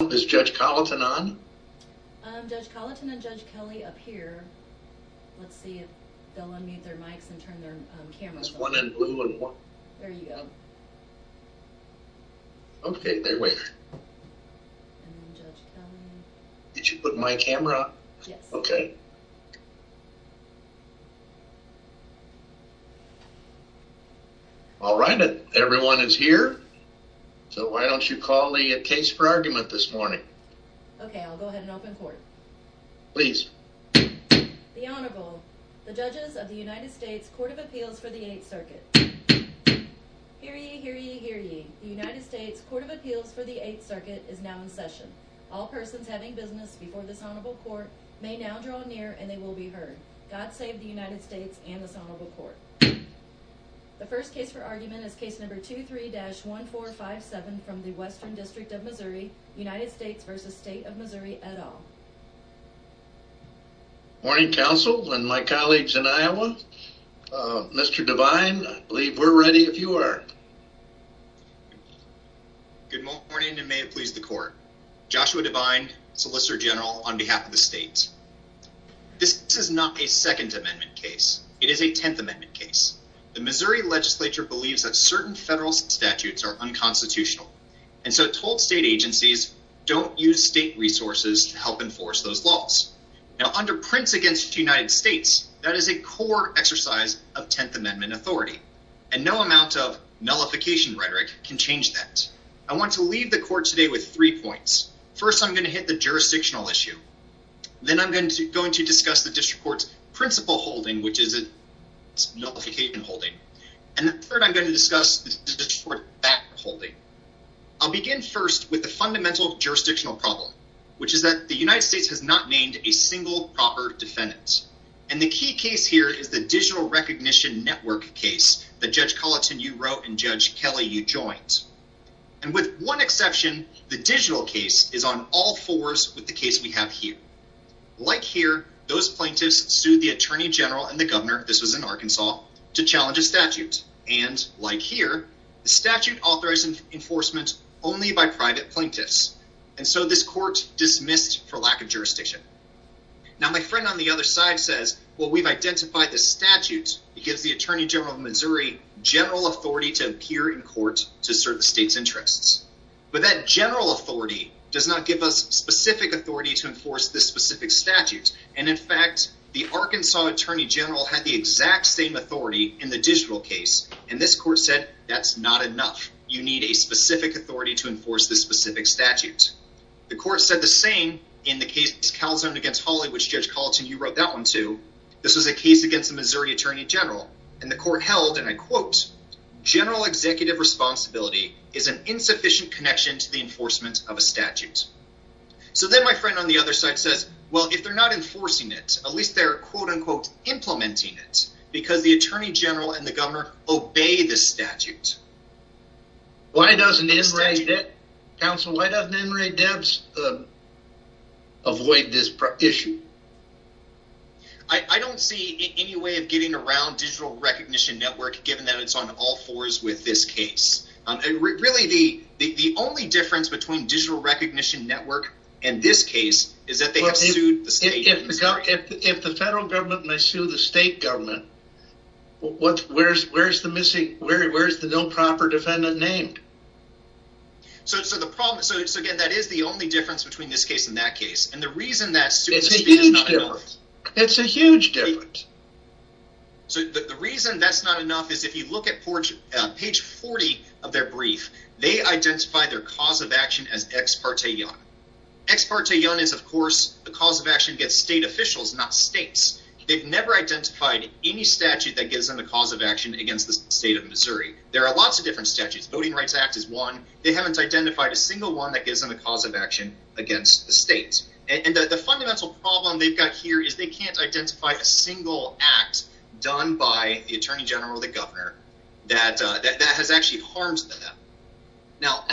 Is Judge Colliton on? Judge Colliton and Judge Kelly up here. Let's see if they'll unmute their mics and turn their cameras on. There's one in blue and one... There you go. Okay, they're waiting. And then Judge Kelly. Did you put my camera on? Yes. Okay. All right, everyone is here. So why don't you call the case for argument this morning. Okay, I'll go ahead and open court. Please. The Honorable, the judges of the United States Court of Appeals for the Eighth Circuit. Hear ye, hear ye, hear ye. The United States Court of Appeals for the Eighth Circuit is now in session. All persons having business before this honorable court may now draw near and they will be heard. God save the United States and this honorable court. The first case for argument is case number 23-1457 from the Western District of Missouri, United States v. State of Missouri et al. Good morning, counsel and my colleagues in Iowa. Mr. Devine, I believe we're ready if you are. Good morning and may it please the court. Joshua Devine, Solicitor General on behalf of the state. This is not a Second Amendment case. It is a Tenth Amendment case. The Missouri legislature believes that certain federal statutes are unconstitutional. And so it told state agencies, don't use state resources to help enforce those laws. Now under Prince v. United States, that is a core exercise of Tenth Amendment authority. And no amount of nullification rhetoric can change that. I want to leave the court today with three points. First, I'm going to hit the jurisdictional issue. Then I'm going to discuss the district court's principal holding, which is a nullification holding. And third, I'm going to discuss the district court's back holding. I'll begin first with the fundamental jurisdictional problem, which is that the United States has not named a single proper defendant. And the key case here is the digital recognition network case that Judge Colleton, you wrote and Judge Kelly, you joined. And with one exception, the digital case is on all fours with the case we have here. Like here, those plaintiffs sued the attorney general and the governor, this was in Arkansas, to challenge a statute. And like here, the statute authorizes enforcement only by private plaintiffs. And so this court dismissed for lack of jurisdiction. Now, my friend on the other side says, well, we've identified the statute. It gives the attorney general of Missouri general authority to appear in court to serve the state's interests. But that general authority does not give us specific authority to enforce this specific statute. And in fact, the Arkansas attorney general had the exact same authority in the digital case. And this court said, that's not enough. You need a specific authority to enforce this specific statute. The court said the same in the case, Calzone against Hawley, which Judge Colleton, you wrote that one, too. This was a case against the Missouri attorney general and the court held, and I quote, general executive responsibility is an insufficient connection to the enforcement of a statute. So then my friend on the other side says, well, if they're not enforcing it, at least they're, quote, unquote, implementing it because the attorney general and the governor obey the statute. Why doesn't it? Counsel, why doesn't Emory Debs avoid this issue? I don't see any way of getting around digital recognition network, given that it's on all fours with this case. Really, the only difference between digital recognition network and this case is that they have sued the state. What? Where's where's the missing? Where is the no proper defendant named? So the problem is, again, that is the only difference between this case in that case. And the reason that it's a huge difference, it's a huge difference. So the reason that's not enough is if you look at page 40 of their brief, they identify their cause of action as ex parte. Ex parte young is, of course, the cause of action gets state officials, not states. They've never identified any statute that gives them the cause of action against the state of Missouri. There are lots of different statutes. Voting Rights Act is one. They haven't identified a single one that gives them a cause of action against the states. And the fundamental problem they've got here is they can't identify a single act done by the attorney general, the governor that that has actually harmed them. Now,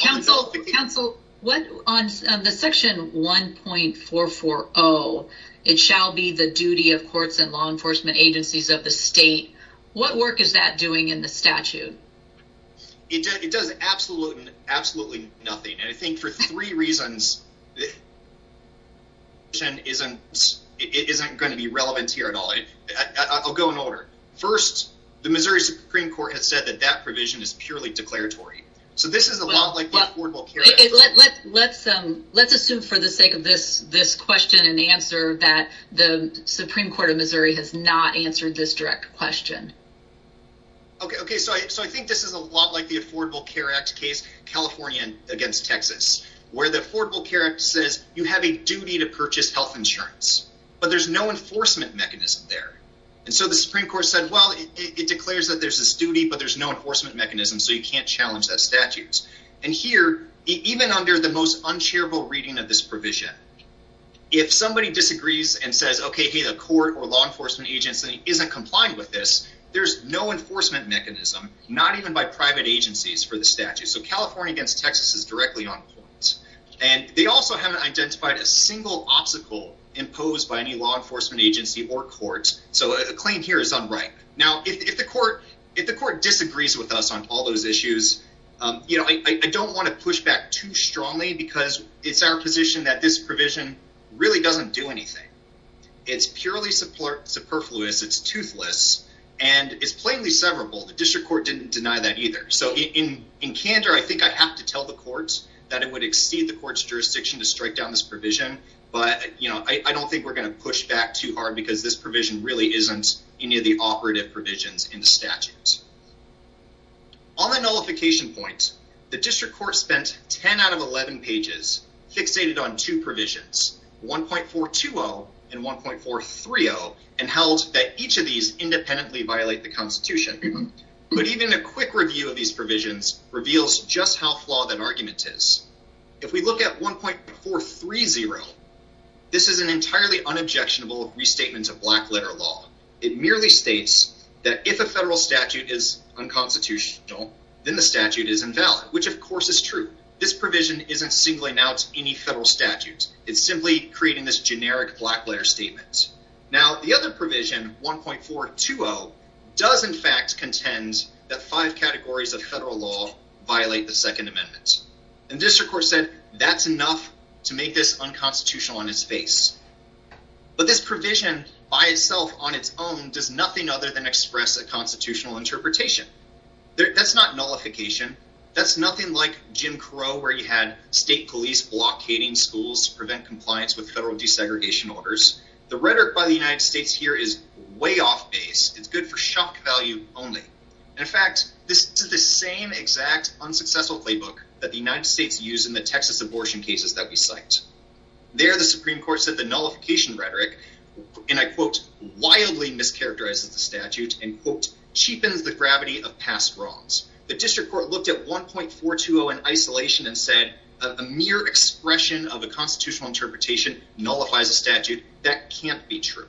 counsel, counsel, what on the section one point four four. Oh, it shall be the duty of courts and law enforcement agencies of the state. What work is that doing in the statute? It does. Absolutely. Absolutely nothing. And I think for three reasons. And isn't it isn't going to be relevant here at all. I'll go in order. First, the Missouri Supreme Court has said that that provision is purely declaratory. So this is a lot like. Let's let's assume for the sake of this. This question and answer that the Supreme Court of Missouri has not answered this direct question. OK, OK. So I think this is a lot like the Affordable Care Act case, California against Texas, where the Affordable Care Act says you have a duty to purchase health insurance. But there's no enforcement mechanism there. And so the Supreme Court said, well, it declares that there's this duty, but there's no enforcement mechanism. So you can't challenge that statutes. And here, even under the most uncharitable reading of this provision, if somebody disagrees and says, OK, hey, the court or law enforcement agency isn't complying with this. There's no enforcement mechanism, not even by private agencies for the statute. So California against Texas is directly on point. And they also haven't identified a single obstacle imposed by any law enforcement agency or courts. So a claim here is unripe. Now, if the court if the court disagrees with us on all those issues, you know, I don't want to push back too strongly because it's our position that this provision really doesn't do anything. It's purely support superfluous. It's toothless and it's plainly severable. The district court didn't deny that either. So in in candor, I think I have to tell the courts that it would exceed the court's jurisdiction to strike down this provision. But, you know, I don't think we're going to push back too hard because this provision really isn't any of the operative provisions in the statutes. On the nullification point, the district court spent 10 out of 11 pages fixated on two provisions, one point for two and one point for three. Oh, and held that each of these independently violate the Constitution. But even a quick review of these provisions reveals just how flawed that argument is. If we look at one point for three zero, this is an entirely unobjectionable restatement of black letter law. It merely states that if a federal statute is unconstitutional, then the statute is invalid, which, of course, is true. This provision isn't singling out any federal statutes. It's simply creating this generic black letter statement. Now, the other provision, one point four to does, in fact, contends that five categories of federal law violate the Second Amendment. And this, of course, said that's enough to make this unconstitutional on its face. But this provision by itself on its own does nothing other than express a constitutional interpretation. That's not nullification. That's nothing like Jim Crow, where you had state police blockading schools to prevent compliance with federal desegregation orders. The rhetoric by the United States here is way off base. It's good for shock value only. In fact, this is the same exact unsuccessful playbook that the United States use in the Texas abortion cases that we cite. There, the Supreme Court said the nullification rhetoric, and I quote, wildly mischaracterizes the statute and quote, cheapens the gravity of past wrongs. The district court looked at one point four to an isolation and said a mere expression of a constitutional interpretation nullifies a statute. That can't be true.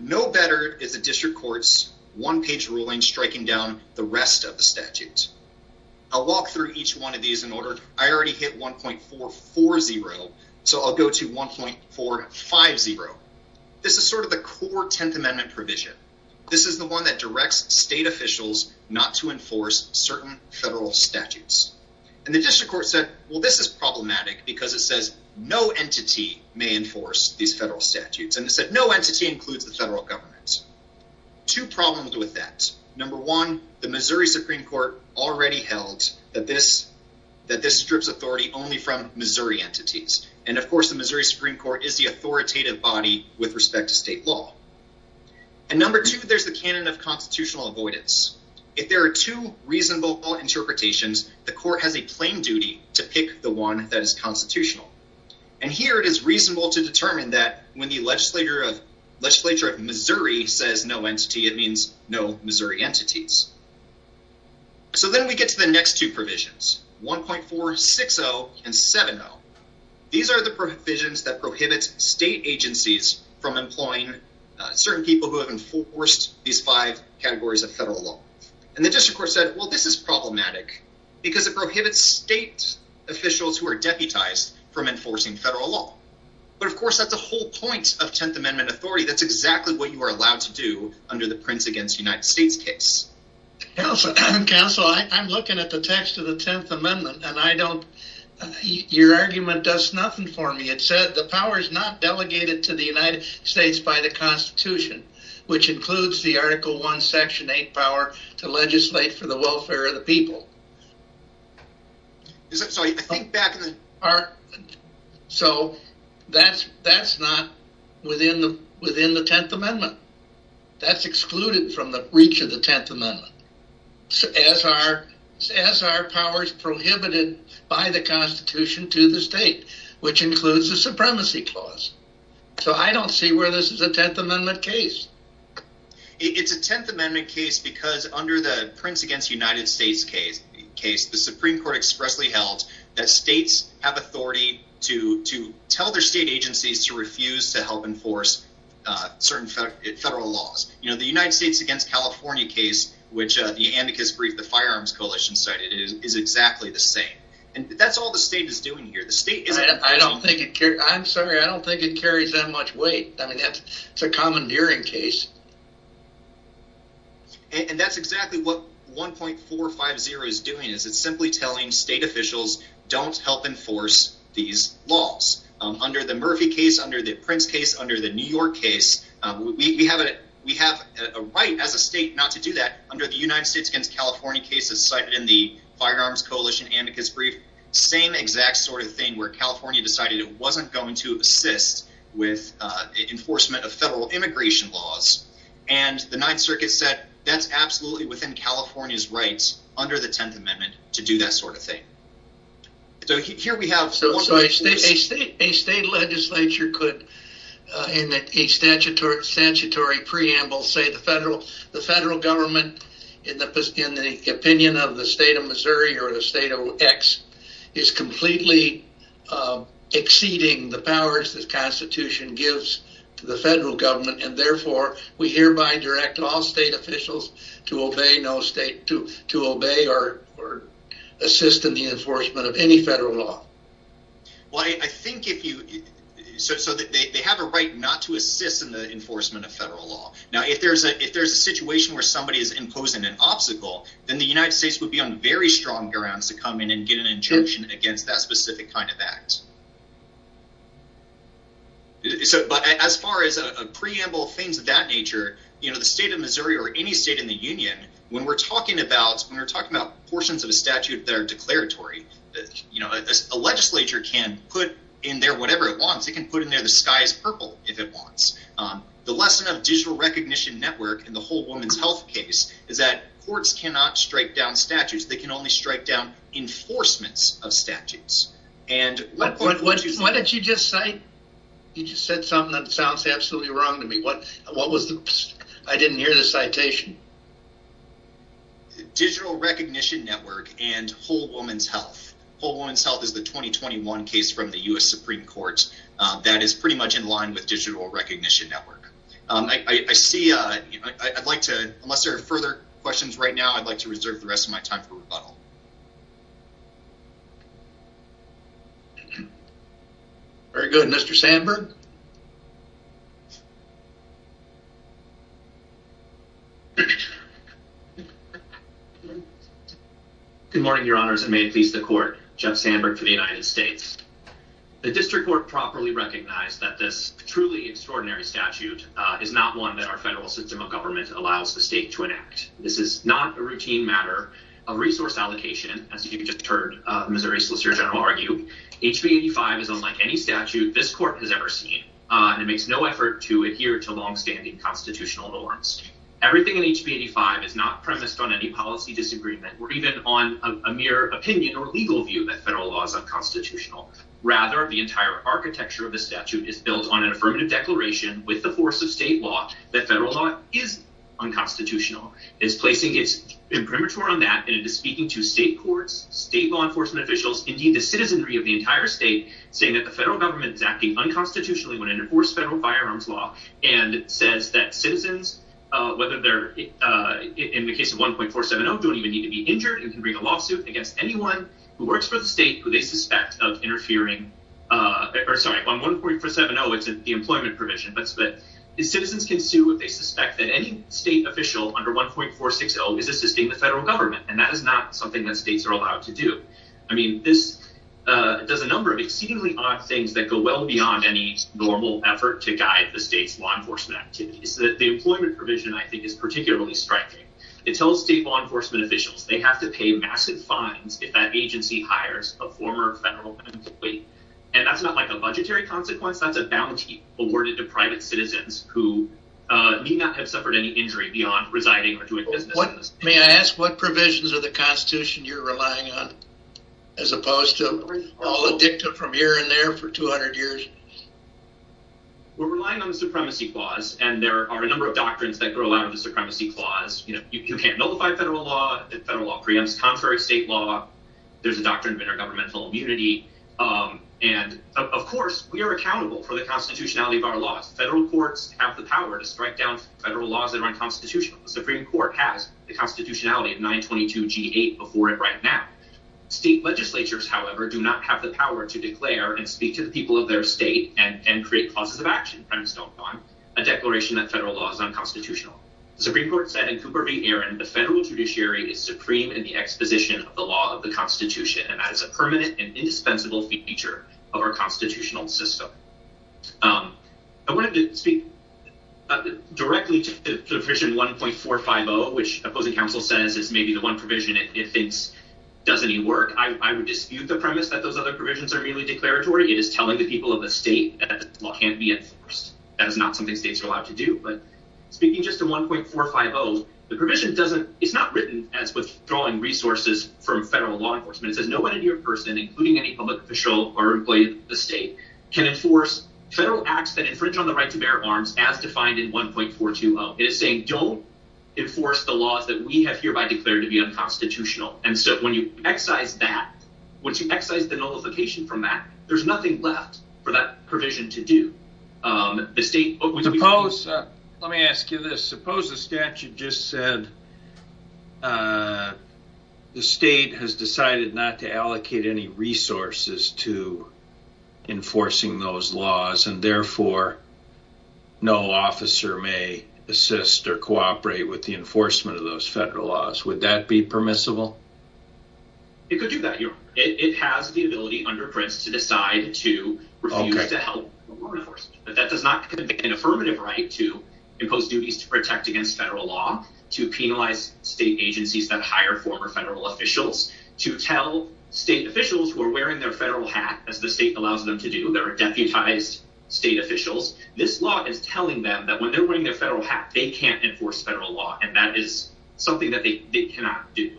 No better is a district court's one page ruling striking down the rest of the statute. I'll walk through each one of these in order. I already hit one point four four zero. So I'll go to one point four five zero. This is sort of the core Tenth Amendment provision. This is the one that directs state officials not to enforce certain federal statutes. And the district court said, well, this is problematic because it says no entity may enforce these federal statutes. And it said no entity includes the federal government. Two problems with that. Number one, the Missouri Supreme Court already held that this that this strips authority only from Missouri entities. And of course, the Missouri Supreme Court is the authoritative body with respect to state law. And number two, there's the canon of constitutional avoidance. If there are two reasonable interpretations, the court has a plain duty to pick the one that is constitutional. And here it is reasonable to determine that when the legislature of legislature of Missouri says no entity, it means no Missouri entities. So then we get to the next two provisions, one point four six zero and seven zero. These are the provisions that prohibits state agencies from employing certain people who have enforced these five categories of federal law. And the district court said, well, this is problematic because it prohibits state officials who are deputized from enforcing federal law. But of course, that's the whole point of Tenth Amendment authority. That's exactly what you are allowed to do under the Prince against United States case. Counsel, I'm looking at the text of the Tenth Amendment and I don't your argument does nothing for me. It said the power is not delegated to the United States by the Constitution, which includes the article one section eight power to legislate for the welfare of the people. So that's that's not within the within the Tenth Amendment. That's excluded from the reach of the Tenth Amendment as our as our powers prohibited by the Constitution to the state, which includes the supremacy clause. So I don't see where this is a Tenth Amendment case. It's a Tenth Amendment case because under the Prince against United States case case, the Supreme Court expressly held that states have authority to to tell their state agencies to refuse to help enforce certain federal laws. You know, the United States against California case, which the amicus brief, the firearms coalition cited is exactly the same. And that's all the state is doing here. The state. I don't think I'm sorry. I don't think it carries that much weight. I mean, that's a commandeering case. And that's exactly what one point four or five zero is doing is it's simply telling state officials don't help enforce these laws under the Murphy case, under the Prince case, under the New York case. We have it. We have a right as a state not to do that. Under the United States against California cases cited in the firearms coalition amicus brief, same exact sort of thing where California decided it wasn't going to assist with enforcement of federal immigration laws. And the Ninth Circuit said that's absolutely within California's rights under the Tenth Amendment to do that sort of thing. So here we have a state legislature could in a statutory preamble say the federal the federal government in the opinion of the state of Missouri or the state of X is completely exceeding the powers this constitution gives to the federal government. And therefore, we hereby direct all state officials to obey no state to to obey or or assist in the enforcement of any federal law. Well, I think if you said so that they have a right not to assist in the enforcement of federal law. Now, if there's a if there's a situation where somebody is imposing an obstacle, then the United States would be on very strong grounds to come in and get an injunction against that specific kind of act. So but as far as a preamble, things of that nature, you know, the state of Missouri or any state in the union, when we're talking about when we're talking about portions of a statute that are declaratory, you know, a legislature can put in there whatever it wants. It can put in there the sky is purple if it wants. The lesson of digital recognition network and the whole woman's health case is that courts cannot strike down statutes. They can only strike down enforcements of statutes. And what did you just say? You just said something that sounds absolutely wrong to me. What what was the I didn't hear the citation. Digital recognition network and whole woman's health, whole woman's health is the 2021 case from the U.S. Supreme Court. That is pretty much in line with digital recognition network. I see. I'd like to. Unless there are further questions right now, I'd like to reserve the rest of my time for rebuttal. Very good, Mr. Sandberg. Good morning, your honors, and may it please the court. Jeff Sandberg for the United States. The district court properly recognized that this truly extraordinary statute is not one that our federal system of government allows the state to enact. This is not a routine matter of resource allocation. As you just heard Missouri Solicitor General argue, HB 85 is unlike any statute this court has ever seen. And it makes no effort to adhere to longstanding constitutional norms. Everything in HB 85 is not premised on any policy disagreement or even on a mere opinion or legal view that federal law is unconstitutional. Rather, the entire architecture of the statute is built on an affirmative declaration with the force of state law that federal law is unconstitutional. It's placing its imprimatur on that. And it is speaking to state courts, state law enforcement officials, indeed, the citizenry of the entire state, saying that the federal government is acting unconstitutionally. And it says that citizens, whether they're in the case of 1.470, don't even need to be injured. It can bring a lawsuit against anyone who works for the state who they suspect of interfering. Sorry, on 1.470, it's the employment provision. But citizens can sue if they suspect that any state official under 1.460 is assisting the federal government. And that is not something that states are allowed to do. I mean, this does a number of exceedingly odd things that go well beyond any normal effort to guide the state's law enforcement activities. The employment provision, I think, is particularly striking. It tells state law enforcement officials they have to pay massive fines if that agency hires a former federal employee. And that's not like a budgetary consequence. That's a bounty awarded to private citizens who may not have suffered any injury beyond residing or doing business. May I ask, what provisions of the Constitution you're relying on, as opposed to all addicted from here and there for 200 years? We're relying on the Supremacy Clause. And there are a number of doctrines that grow out of the Supremacy Clause. You can't nullify federal law. Federal law preempts contrary state law. There's a doctrine of intergovernmental immunity. And, of course, we are accountable for the constitutionality of our laws. Federal courts have the power to strike down federal laws that are unconstitutional. The Supreme Court has the constitutionality of 922G8 before it right now. State legislatures, however, do not have the power to declare and speak to the people of their state and create clauses of action, a declaration that federal law is unconstitutional. The Supreme Court said in Cooper v. Aaron, the federal judiciary is supreme in the exposition of the law of the Constitution. And that is a permanent and indispensable feature of our constitutional system. I wanted to speak directly to Provision 1.450, which opposing counsel says is maybe the one provision it thinks does any work. I would dispute the premise that those other provisions are merely declaratory. It is telling the people of the state that the law can't be enforced. That is not something states are allowed to do. But speaking just to 1.450, the provision doesn't—it's not written as withdrawing resources from federal law enforcement. It says no entity or person, including any public official or employee of the state, can enforce federal acts that infringe on the right to bear arms as defined in 1.420. It is saying don't enforce the laws that we have hereby declared to be unconstitutional. And so when you excise that, when you excise the nullification from that, there's nothing left for that provision to do. Suppose—let me ask you this—suppose the statute just said the state has decided not to allocate any resources to enforcing those laws, and therefore no officer may assist or cooperate with the enforcement of those federal laws. Would that be permissible? It could do that. It has the ability under Prince to decide to refuse to help law enforcement. But that does not convey an affirmative right to impose duties to protect against federal law, to penalize state agencies that hire former federal officials, to tell state officials who are wearing their federal hat, as the state allows them to do, that are deputized state officials, this law is telling them that when they're wearing their federal hat, they can't enforce federal law. And that is something that they cannot do.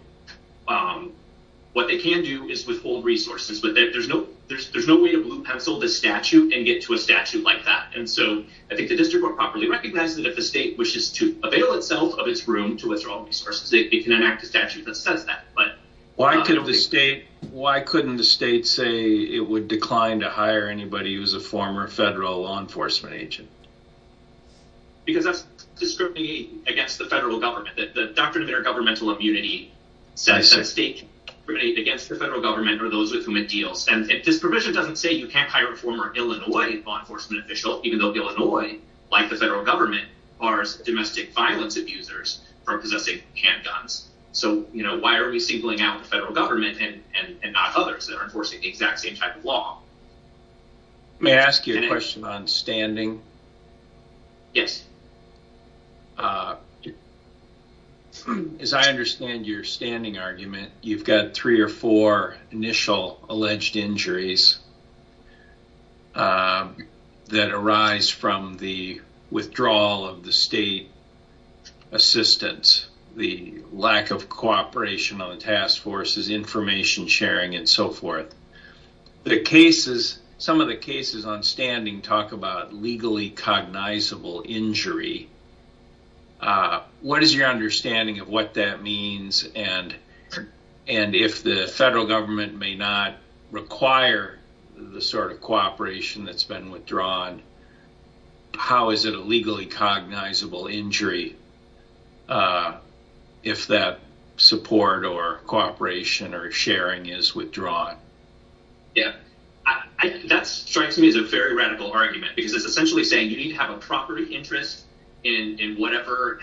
What they can do is withhold resources, but there's no way to blue pencil the statute and get to a statute like that. And so I think the district would properly recognize that if the state wishes to avail itself of its room to withdraw resources, it can enact a statute that says that. Why couldn't the state say it would decline to hire anybody who's a former federal law enforcement agent? Because that's discriminating against the federal government. The doctrine of intergovernmental immunity says that state can discriminate against the federal government or those with whom it deals. And this provision doesn't say you can't hire a former Illinois law enforcement official, even though Illinois, like the federal government, bars domestic violence abusers from possessing handguns. So, you know, why are we singling out the federal government and not others that are enforcing the exact same type of law? May I ask you a question on standing? Yes. As I understand your standing argument, you've got three or four initial alleged injuries that arise from the withdrawal of the state assistance, the lack of cooperation on the task forces, information sharing, and so forth. The cases, some of the cases on standing talk about legally cognizable injury. What is your understanding of what that means? And if the federal government may not require the sort of cooperation that's been withdrawn, how is it a legally cognizable injury if that support or cooperation or sharing is withdrawn? Yeah, that strikes me as a very radical argument, because it's essentially saying you need to have a proper interest in whatever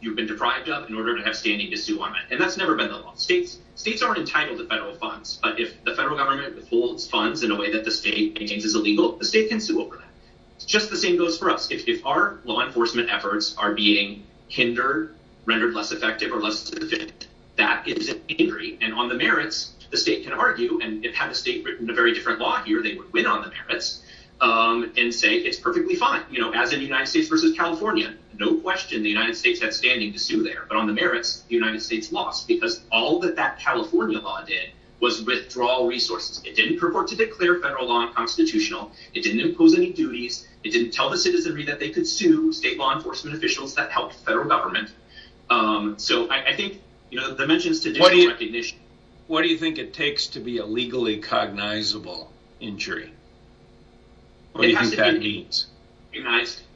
you've been deprived of in order to have standing to sue on that. And that's never been the law. States aren't entitled to federal funds. But if the federal government withholds funds in a way that the state maintains is illegal, the state can sue over that. Just the same goes for us. If our law enforcement efforts are being hindered, rendered less effective or less efficient, that is an injury. And on the merits, the state can argue. And if had the state written a very different law here, they would win on the merits and say it's perfectly fine. You know, as in the United States versus California, no question the United States had standing to sue there. But on the merits, the United States lost, because all that that California law did was withdraw resources. It didn't purport to declare federal law unconstitutional. It didn't impose any duties. It didn't tell the citizenry that they could sue state law enforcement officials that helped federal government. So I think, you know, that mentions traditional recognition. What do you think it takes to be a legally cognizable injury? What do you think that means? In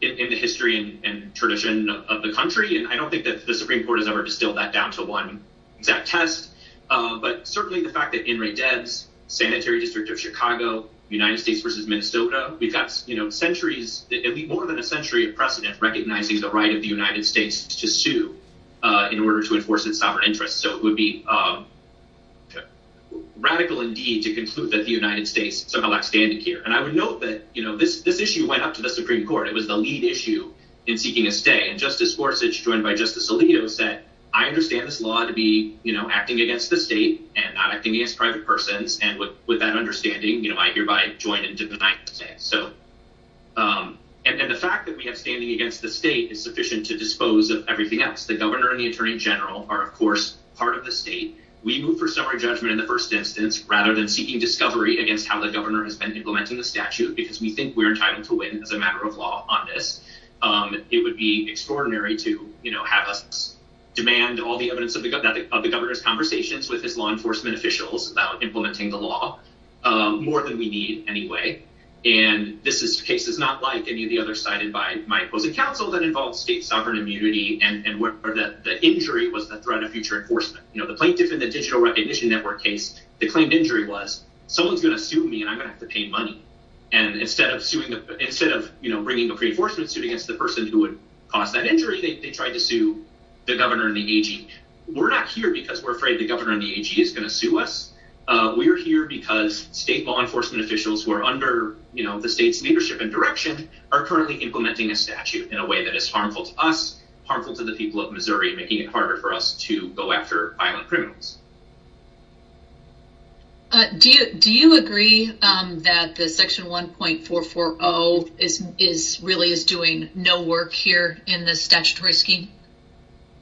the history and tradition of the country. And I don't think that the Supreme Court has ever distilled that down to one exact test. But certainly the fact that in rate debts, sanitary district of Chicago, United States versus Minnesota, we've got, you know, centuries, more than a century of precedent recognizing the right of the United States to sue in order to enforce its sovereign interests. So it would be radical indeed to conclude that the United States somehow lacks standing here. And I would note that, you know, this issue went up to the Supreme Court. It was the lead issue in seeking a stay. And Justice Gorsuch, joined by Justice Alito, said, I understand this law to be, you know, acting against the state and not acting against private persons. And with that understanding, you know, I hereby join into the United States. So and the fact that we have standing against the state is sufficient to dispose of everything else. The governor and the attorney general are, of course, part of the state. We move for summary judgment in the first instance, rather than seeking discovery against how the governor has been implementing the statute, because we think we're entitled to win as a matter of law on this. It would be extraordinary to have us demand all the evidence of the governor's conversations with his law enforcement officials about implementing the law more than we need anyway. And this is cases not like any of the other cited by my opposing counsel that involves state sovereign immunity and where the injury was the threat of future enforcement. You know, the plaintiff in the Digital Recognition Network case, the claimed injury was someone's going to sue me and I'm going to have to pay money. And instead of suing, instead of bringing a pre enforcement suit against the person who would cause that injury, they tried to sue the governor and the AG. We're not here because we're afraid the governor and the AG is going to sue us. We are here because state law enforcement officials who are under the state's leadership and direction are currently implementing a statute in a way that is harmful to us, making it harder for us to go after violent criminals. Do you do you agree that the Section 1.440 is is really is doing no work here in the statutory scheme?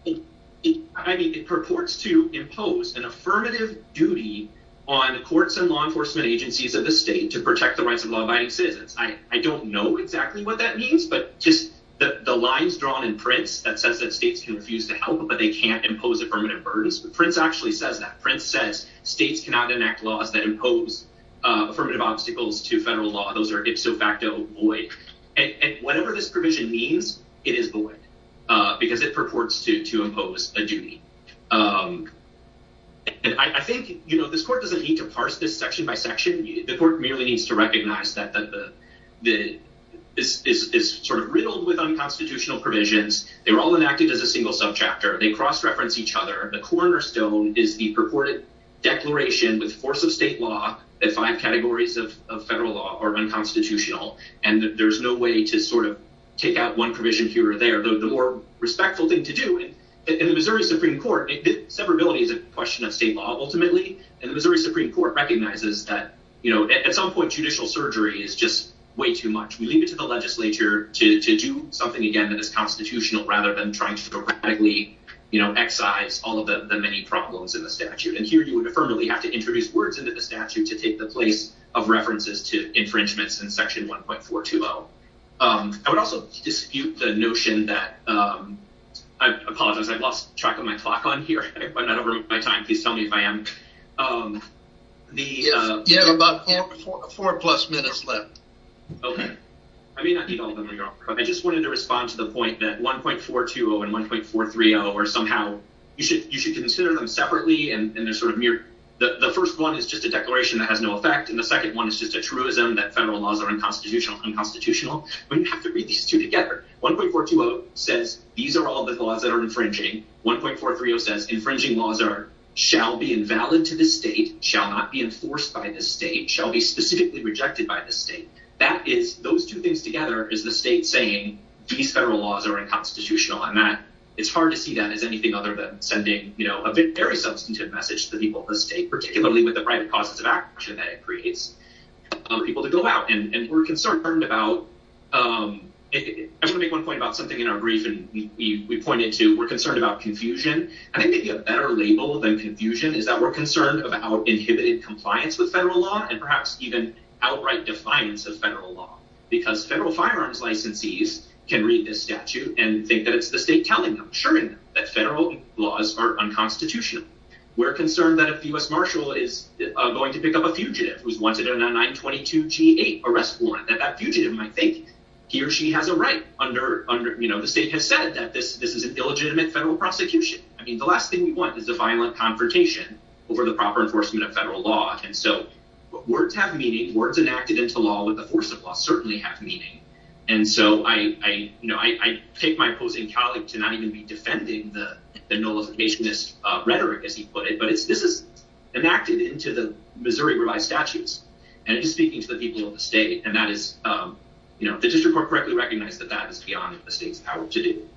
I mean, it purports to impose an affirmative duty on the courts and law enforcement agencies of the state to protect the rights of law abiding citizens. I don't know exactly what that means, but just the lines drawn in Prince that says that states can refuse to help, but they can't impose affirmative burdens. But Prince actually says that Prince says states cannot enact laws that impose affirmative obstacles to federal law. Those are ipso facto void. And whatever this provision means, it is void because it purports to to impose a duty. And I think, you know, this court doesn't need to parse this section by section. The court merely needs to recognize that the that this is sort of riddled with unconstitutional provisions. They were all enacted as a single sub chapter. They cross reference each other. The cornerstone is the purported declaration with force of state law that five categories of federal law are unconstitutional. And there is no way to sort of take out one provision here or there. The more respectful thing to do in the Missouri Supreme Court, severability is a question of state law, ultimately. And the Missouri Supreme Court recognizes that, you know, at some point, judicial surgery is just way too much. We leave it to the legislature to do something again that is constitutional rather than trying to radically, you know, excise all of the many problems in the statute. And here you would affirmably have to introduce words into the statute to take the place of references to infringements in Section 1.420. I would also dispute the notion that I apologize. I've lost track of my clock on here. I'm not over my time. Please tell me if I am. The you have about four plus minutes left. OK, I mean, I just wanted to respond to the point that 1.420 and 1.430 or somehow you should you should consider them separately. The first one is just a declaration that has no effect. And the second one is just a truism that federal laws are unconstitutional, unconstitutional. We have to read these two together. 1.420 says these are all the laws that are infringing. 1.430 says infringing laws are shall be invalid to the state, shall not be enforced by the state, shall be specifically rejected by the state. That is those two things together is the state saying these federal laws are unconstitutional on that. It's hard to see that as anything other than sending a very substantive message to the people of the state, particularly with the right causes of action that it creates people to go out. And we're concerned about it. I want to make one point about something in our briefing. We pointed to we're concerned about confusion. I think maybe a better label than confusion is that we're concerned about inhibited compliance with federal law and perhaps even outright defiance of federal law. Because federal firearms licensees can read this statute and think that it's the state telling them, assuring them that federal laws are unconstitutional. We're concerned that if U.S. Marshall is going to pick up a fugitive who's wanted in a 922 G-8 arrest warrant, that that fugitive might think he or she has a right under, you know, the state has said that this is an illegitimate federal prosecution. I mean, the last thing we want is a violent confrontation over the proper enforcement of federal law. And so words have meaning, words enacted into law with the force of law certainly have meaning. And so I take my opposing colleague to not even be defending the nullificationist rhetoric, as he put it, but this is enacted into the Missouri revised statutes. And he's speaking to the people of the state. And that is, you know, the district court correctly recognized that that is beyond the state's power to do.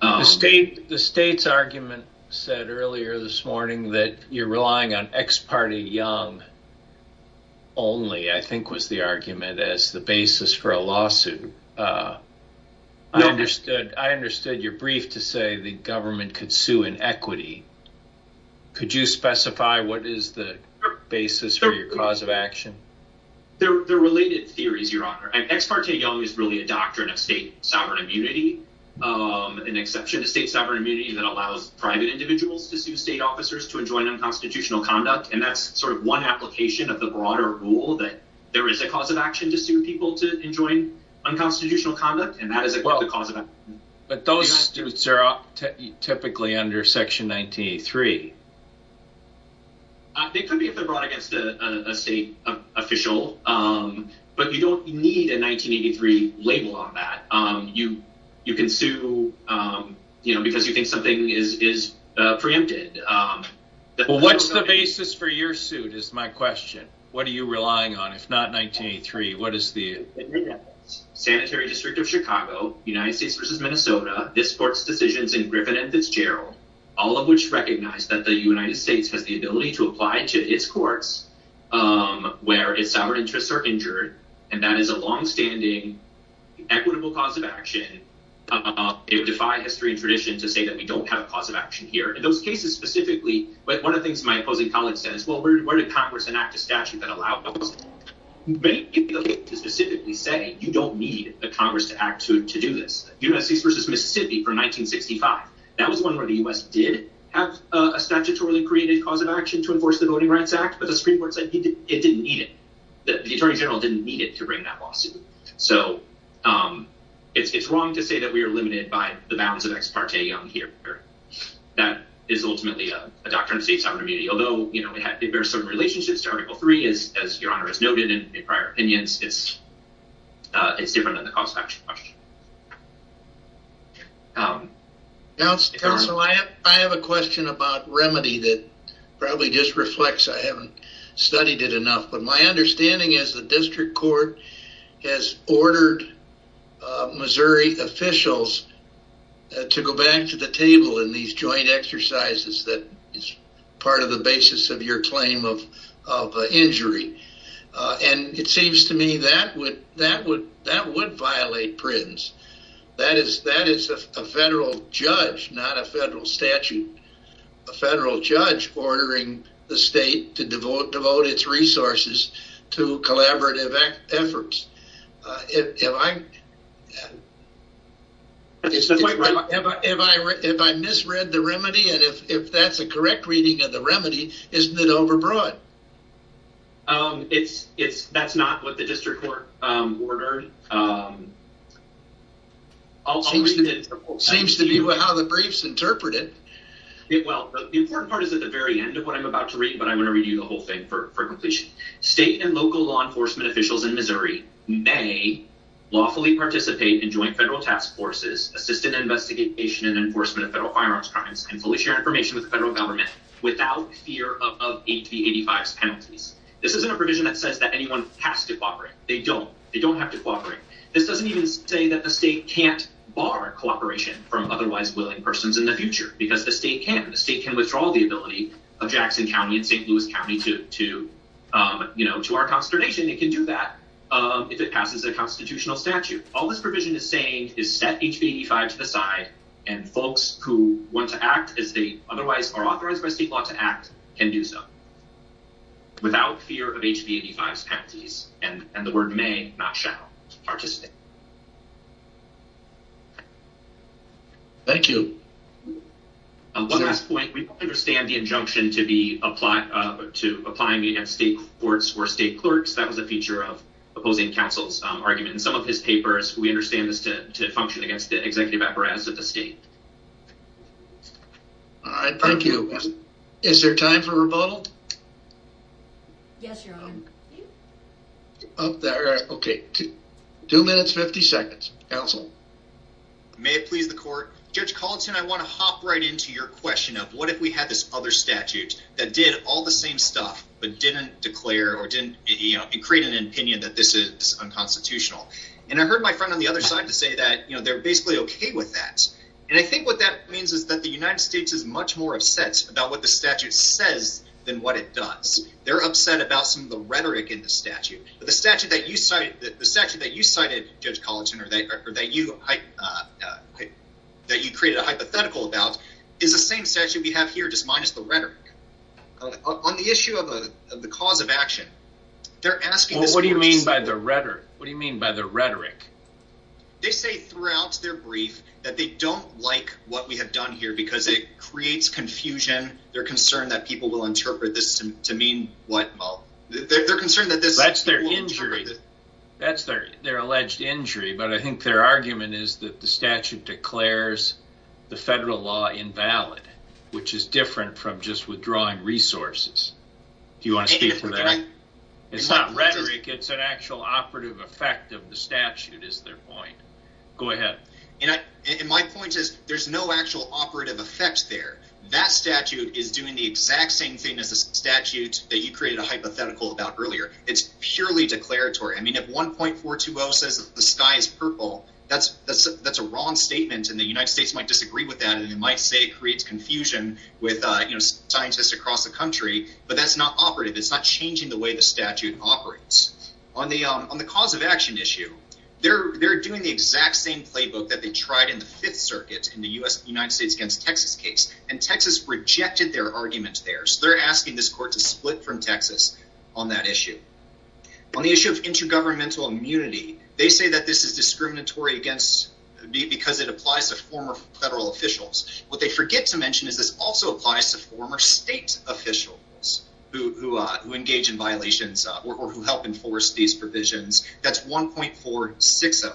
The state, the state's argument said earlier this morning that you're relying on Ex parte Young only, I think, was the argument as the basis for a lawsuit. I understood. I understood your brief to say the government could sue in equity. Could you specify what is the basis for your cause of action? They're related theories, Your Honor. Ex parte Young is really a doctrine of state sovereign immunity, an exception to state sovereign immunity that allows private individuals to sue state officers to enjoin unconstitutional conduct. And that's sort of one application of the broader rule that there is a cause of action to sue people to enjoin unconstitutional conduct. And that is a cause of action. But those suits are typically under Section 1983. It could be if they're brought against a state official. But you don't need a 1983 label on that. You can sue, you know, because you think something is preempted. What's the basis for your suit is my question. What are you relying on? If not 1983, what is the... Sanitary District of Chicago, United States versus Minnesota, this court's decisions in Griffin and Fitzgerald, all of which recognize that the United States has the ability to apply to its courts where its sovereign interests are injured. And that is a longstanding equitable cause of action. It would defy history and tradition to say that we don't have a cause of action here. One of the things my opposing colleague says, well, where did Congress enact a statute that allowed those? You don't need a Congress to act to do this. United States versus Mississippi from 1965. That was one where the U.S. did have a statutorily created cause of action to enforce the Voting Rights Act, but the Supreme Court said it didn't need it. The Attorney General didn't need it to bring that lawsuit. So it's wrong to say that we are limited by the bounds of ex parte here. That is ultimately a doctrine of state sovereign immunity. Although, you know, there are certain relationships to Article III, as Your Honor has noted in prior opinions, it's different than the cause of action question. Counsel, I have a question about remedy that probably just reflects I haven't studied it enough. But my understanding is the district court has ordered Missouri officials to go back to the table in these joint exercises that is part of the basis of your claim of injury. And it seems to me that would violate Prins. That is a federal judge, not a federal statute. A federal judge ordering the state to devote its resources to collaborative efforts. If I misread the remedy and if that's a correct reading of the remedy, isn't it over broad? It's it's that's not what the district court ordered. Also, it seems to be how the briefs interpreted it. Well, the important part is at the very end of what I'm about to read, but I'm going to read you the whole thing for completion. State and local law enforcement officials in Missouri may lawfully participate in joint federal task forces, assist in investigation and enforcement of federal firearms crimes and fully share information with the federal government without fear of 80 to 85 penalties. This isn't a provision that says that anyone has to cooperate. They don't they don't have to cooperate. This doesn't even say that the state can't bar cooperation from otherwise willing persons in the future because the state can the state can withdraw the ability of Jackson County and St. Louis County to to, you know, to our consternation. They can do that if it passes a constitutional statute. All this provision is saying is set HB 85 to the side and folks who want to act as they otherwise are authorized by state law to act can do so. Without fear of HB 85 penalties and and the word may not shall participate. Thank you. Last point, we understand the injunction to be applied to applying against state courts or state clerks. That was a feature of opposing counsel's argument in some of his papers. We understand this to function against the executive apparatus of the state. All right. Thank you. Is there time for rebuttal? Yes, your honor. Up there. Two minutes, 50 seconds. Counsel. May it please the court. Judge Colton, I want to hop right into your question of what if we had this other statute that did all the same stuff but didn't declare or didn't create an opinion that this is unconstitutional? And I heard my friend on the other side to say that they're basically OK with that. And I think what that means is that the United States is much more upset about what the statute says than what it does. They're upset about some of the rhetoric in the statute. The statute that you cited, Judge Colton, or that you created a hypothetical about is the same statute we have here, just minus the rhetoric. On the issue of the cause of action, they're asking this question. Well, what do you mean by the rhetoric? What do you mean by the rhetoric? They say throughout their brief that they don't like what we have done here because it creates confusion. They're concerned that people will interpret this to mean what? That's their injury. That's their alleged injury. But I think their argument is that the statute declares the federal law invalid, which is different from just withdrawing resources. Do you want to speak to that? It's not rhetoric. It's an actual operative effect of the statute is their point. Go ahead. And my point is there's no actual operative effect there. That statute is doing the exact same thing as the statute that you created a hypothetical about earlier. It's purely declaratory. I mean, if 1.420 says the sky is purple, that's a wrong statement. And the United States might disagree with that, and they might say it creates confusion with scientists across the country. But that's not operative. It's not changing the way the statute operates. On the cause of action issue, they're doing the exact same playbook that they tried in the Fifth Circuit in the United States against Texas case. And Texas rejected their arguments there. So they're asking this court to split from Texas on that issue. On the issue of intergovernmental immunity, they say that this is discriminatory because it applies to former federal officials. What they forget to mention is this also applies to former state officials who engage in violations or who help enforce these provisions. That's 1.460.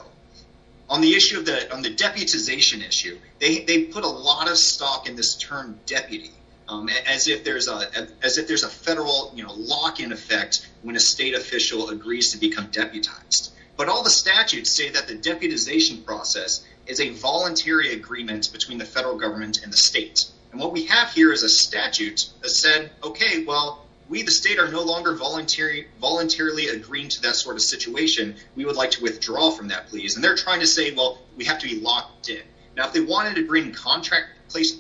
On the deputization issue, they put a lot of stock in this term deputy, as if there's a federal lock-in effect when a state official agrees to become deputized. But all the statutes say that the deputization process is a voluntary agreement between the federal government and the state. And what we have here is a statute that said, OK, well, we the state are no longer voluntarily agreeing to that sort of situation. We would like to withdraw from that, please. And they're trying to say, well, we have to be locked in. Now, if they wanted to bring contract place,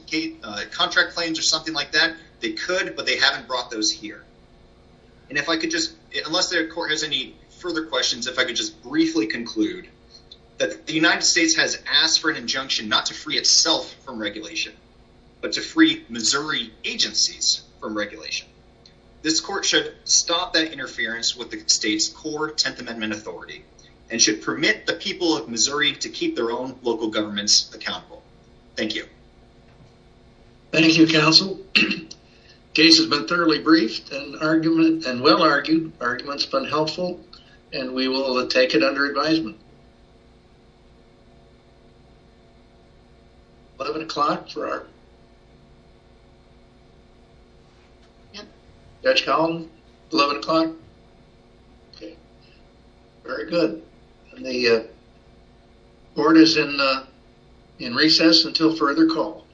contract claims or something like that, they could, but they haven't brought those here. And if I could just unless the court has any further questions, if I could just briefly conclude that the United States has asked for an injunction not to free itself from regulation, but to free Missouri agencies from regulation. This court should stop that interference with the state's core Tenth Amendment authority and should permit the people of Missouri to keep their own local governments accountable. Thank you. Thank you, counsel. Case has been thoroughly briefed and argument and well argued. Arguments been helpful and we will take it under advisement. 11 o'clock for our. Yep. Dutch Collin, 11 o'clock. Okay. Very good. The board is in in recess until further call.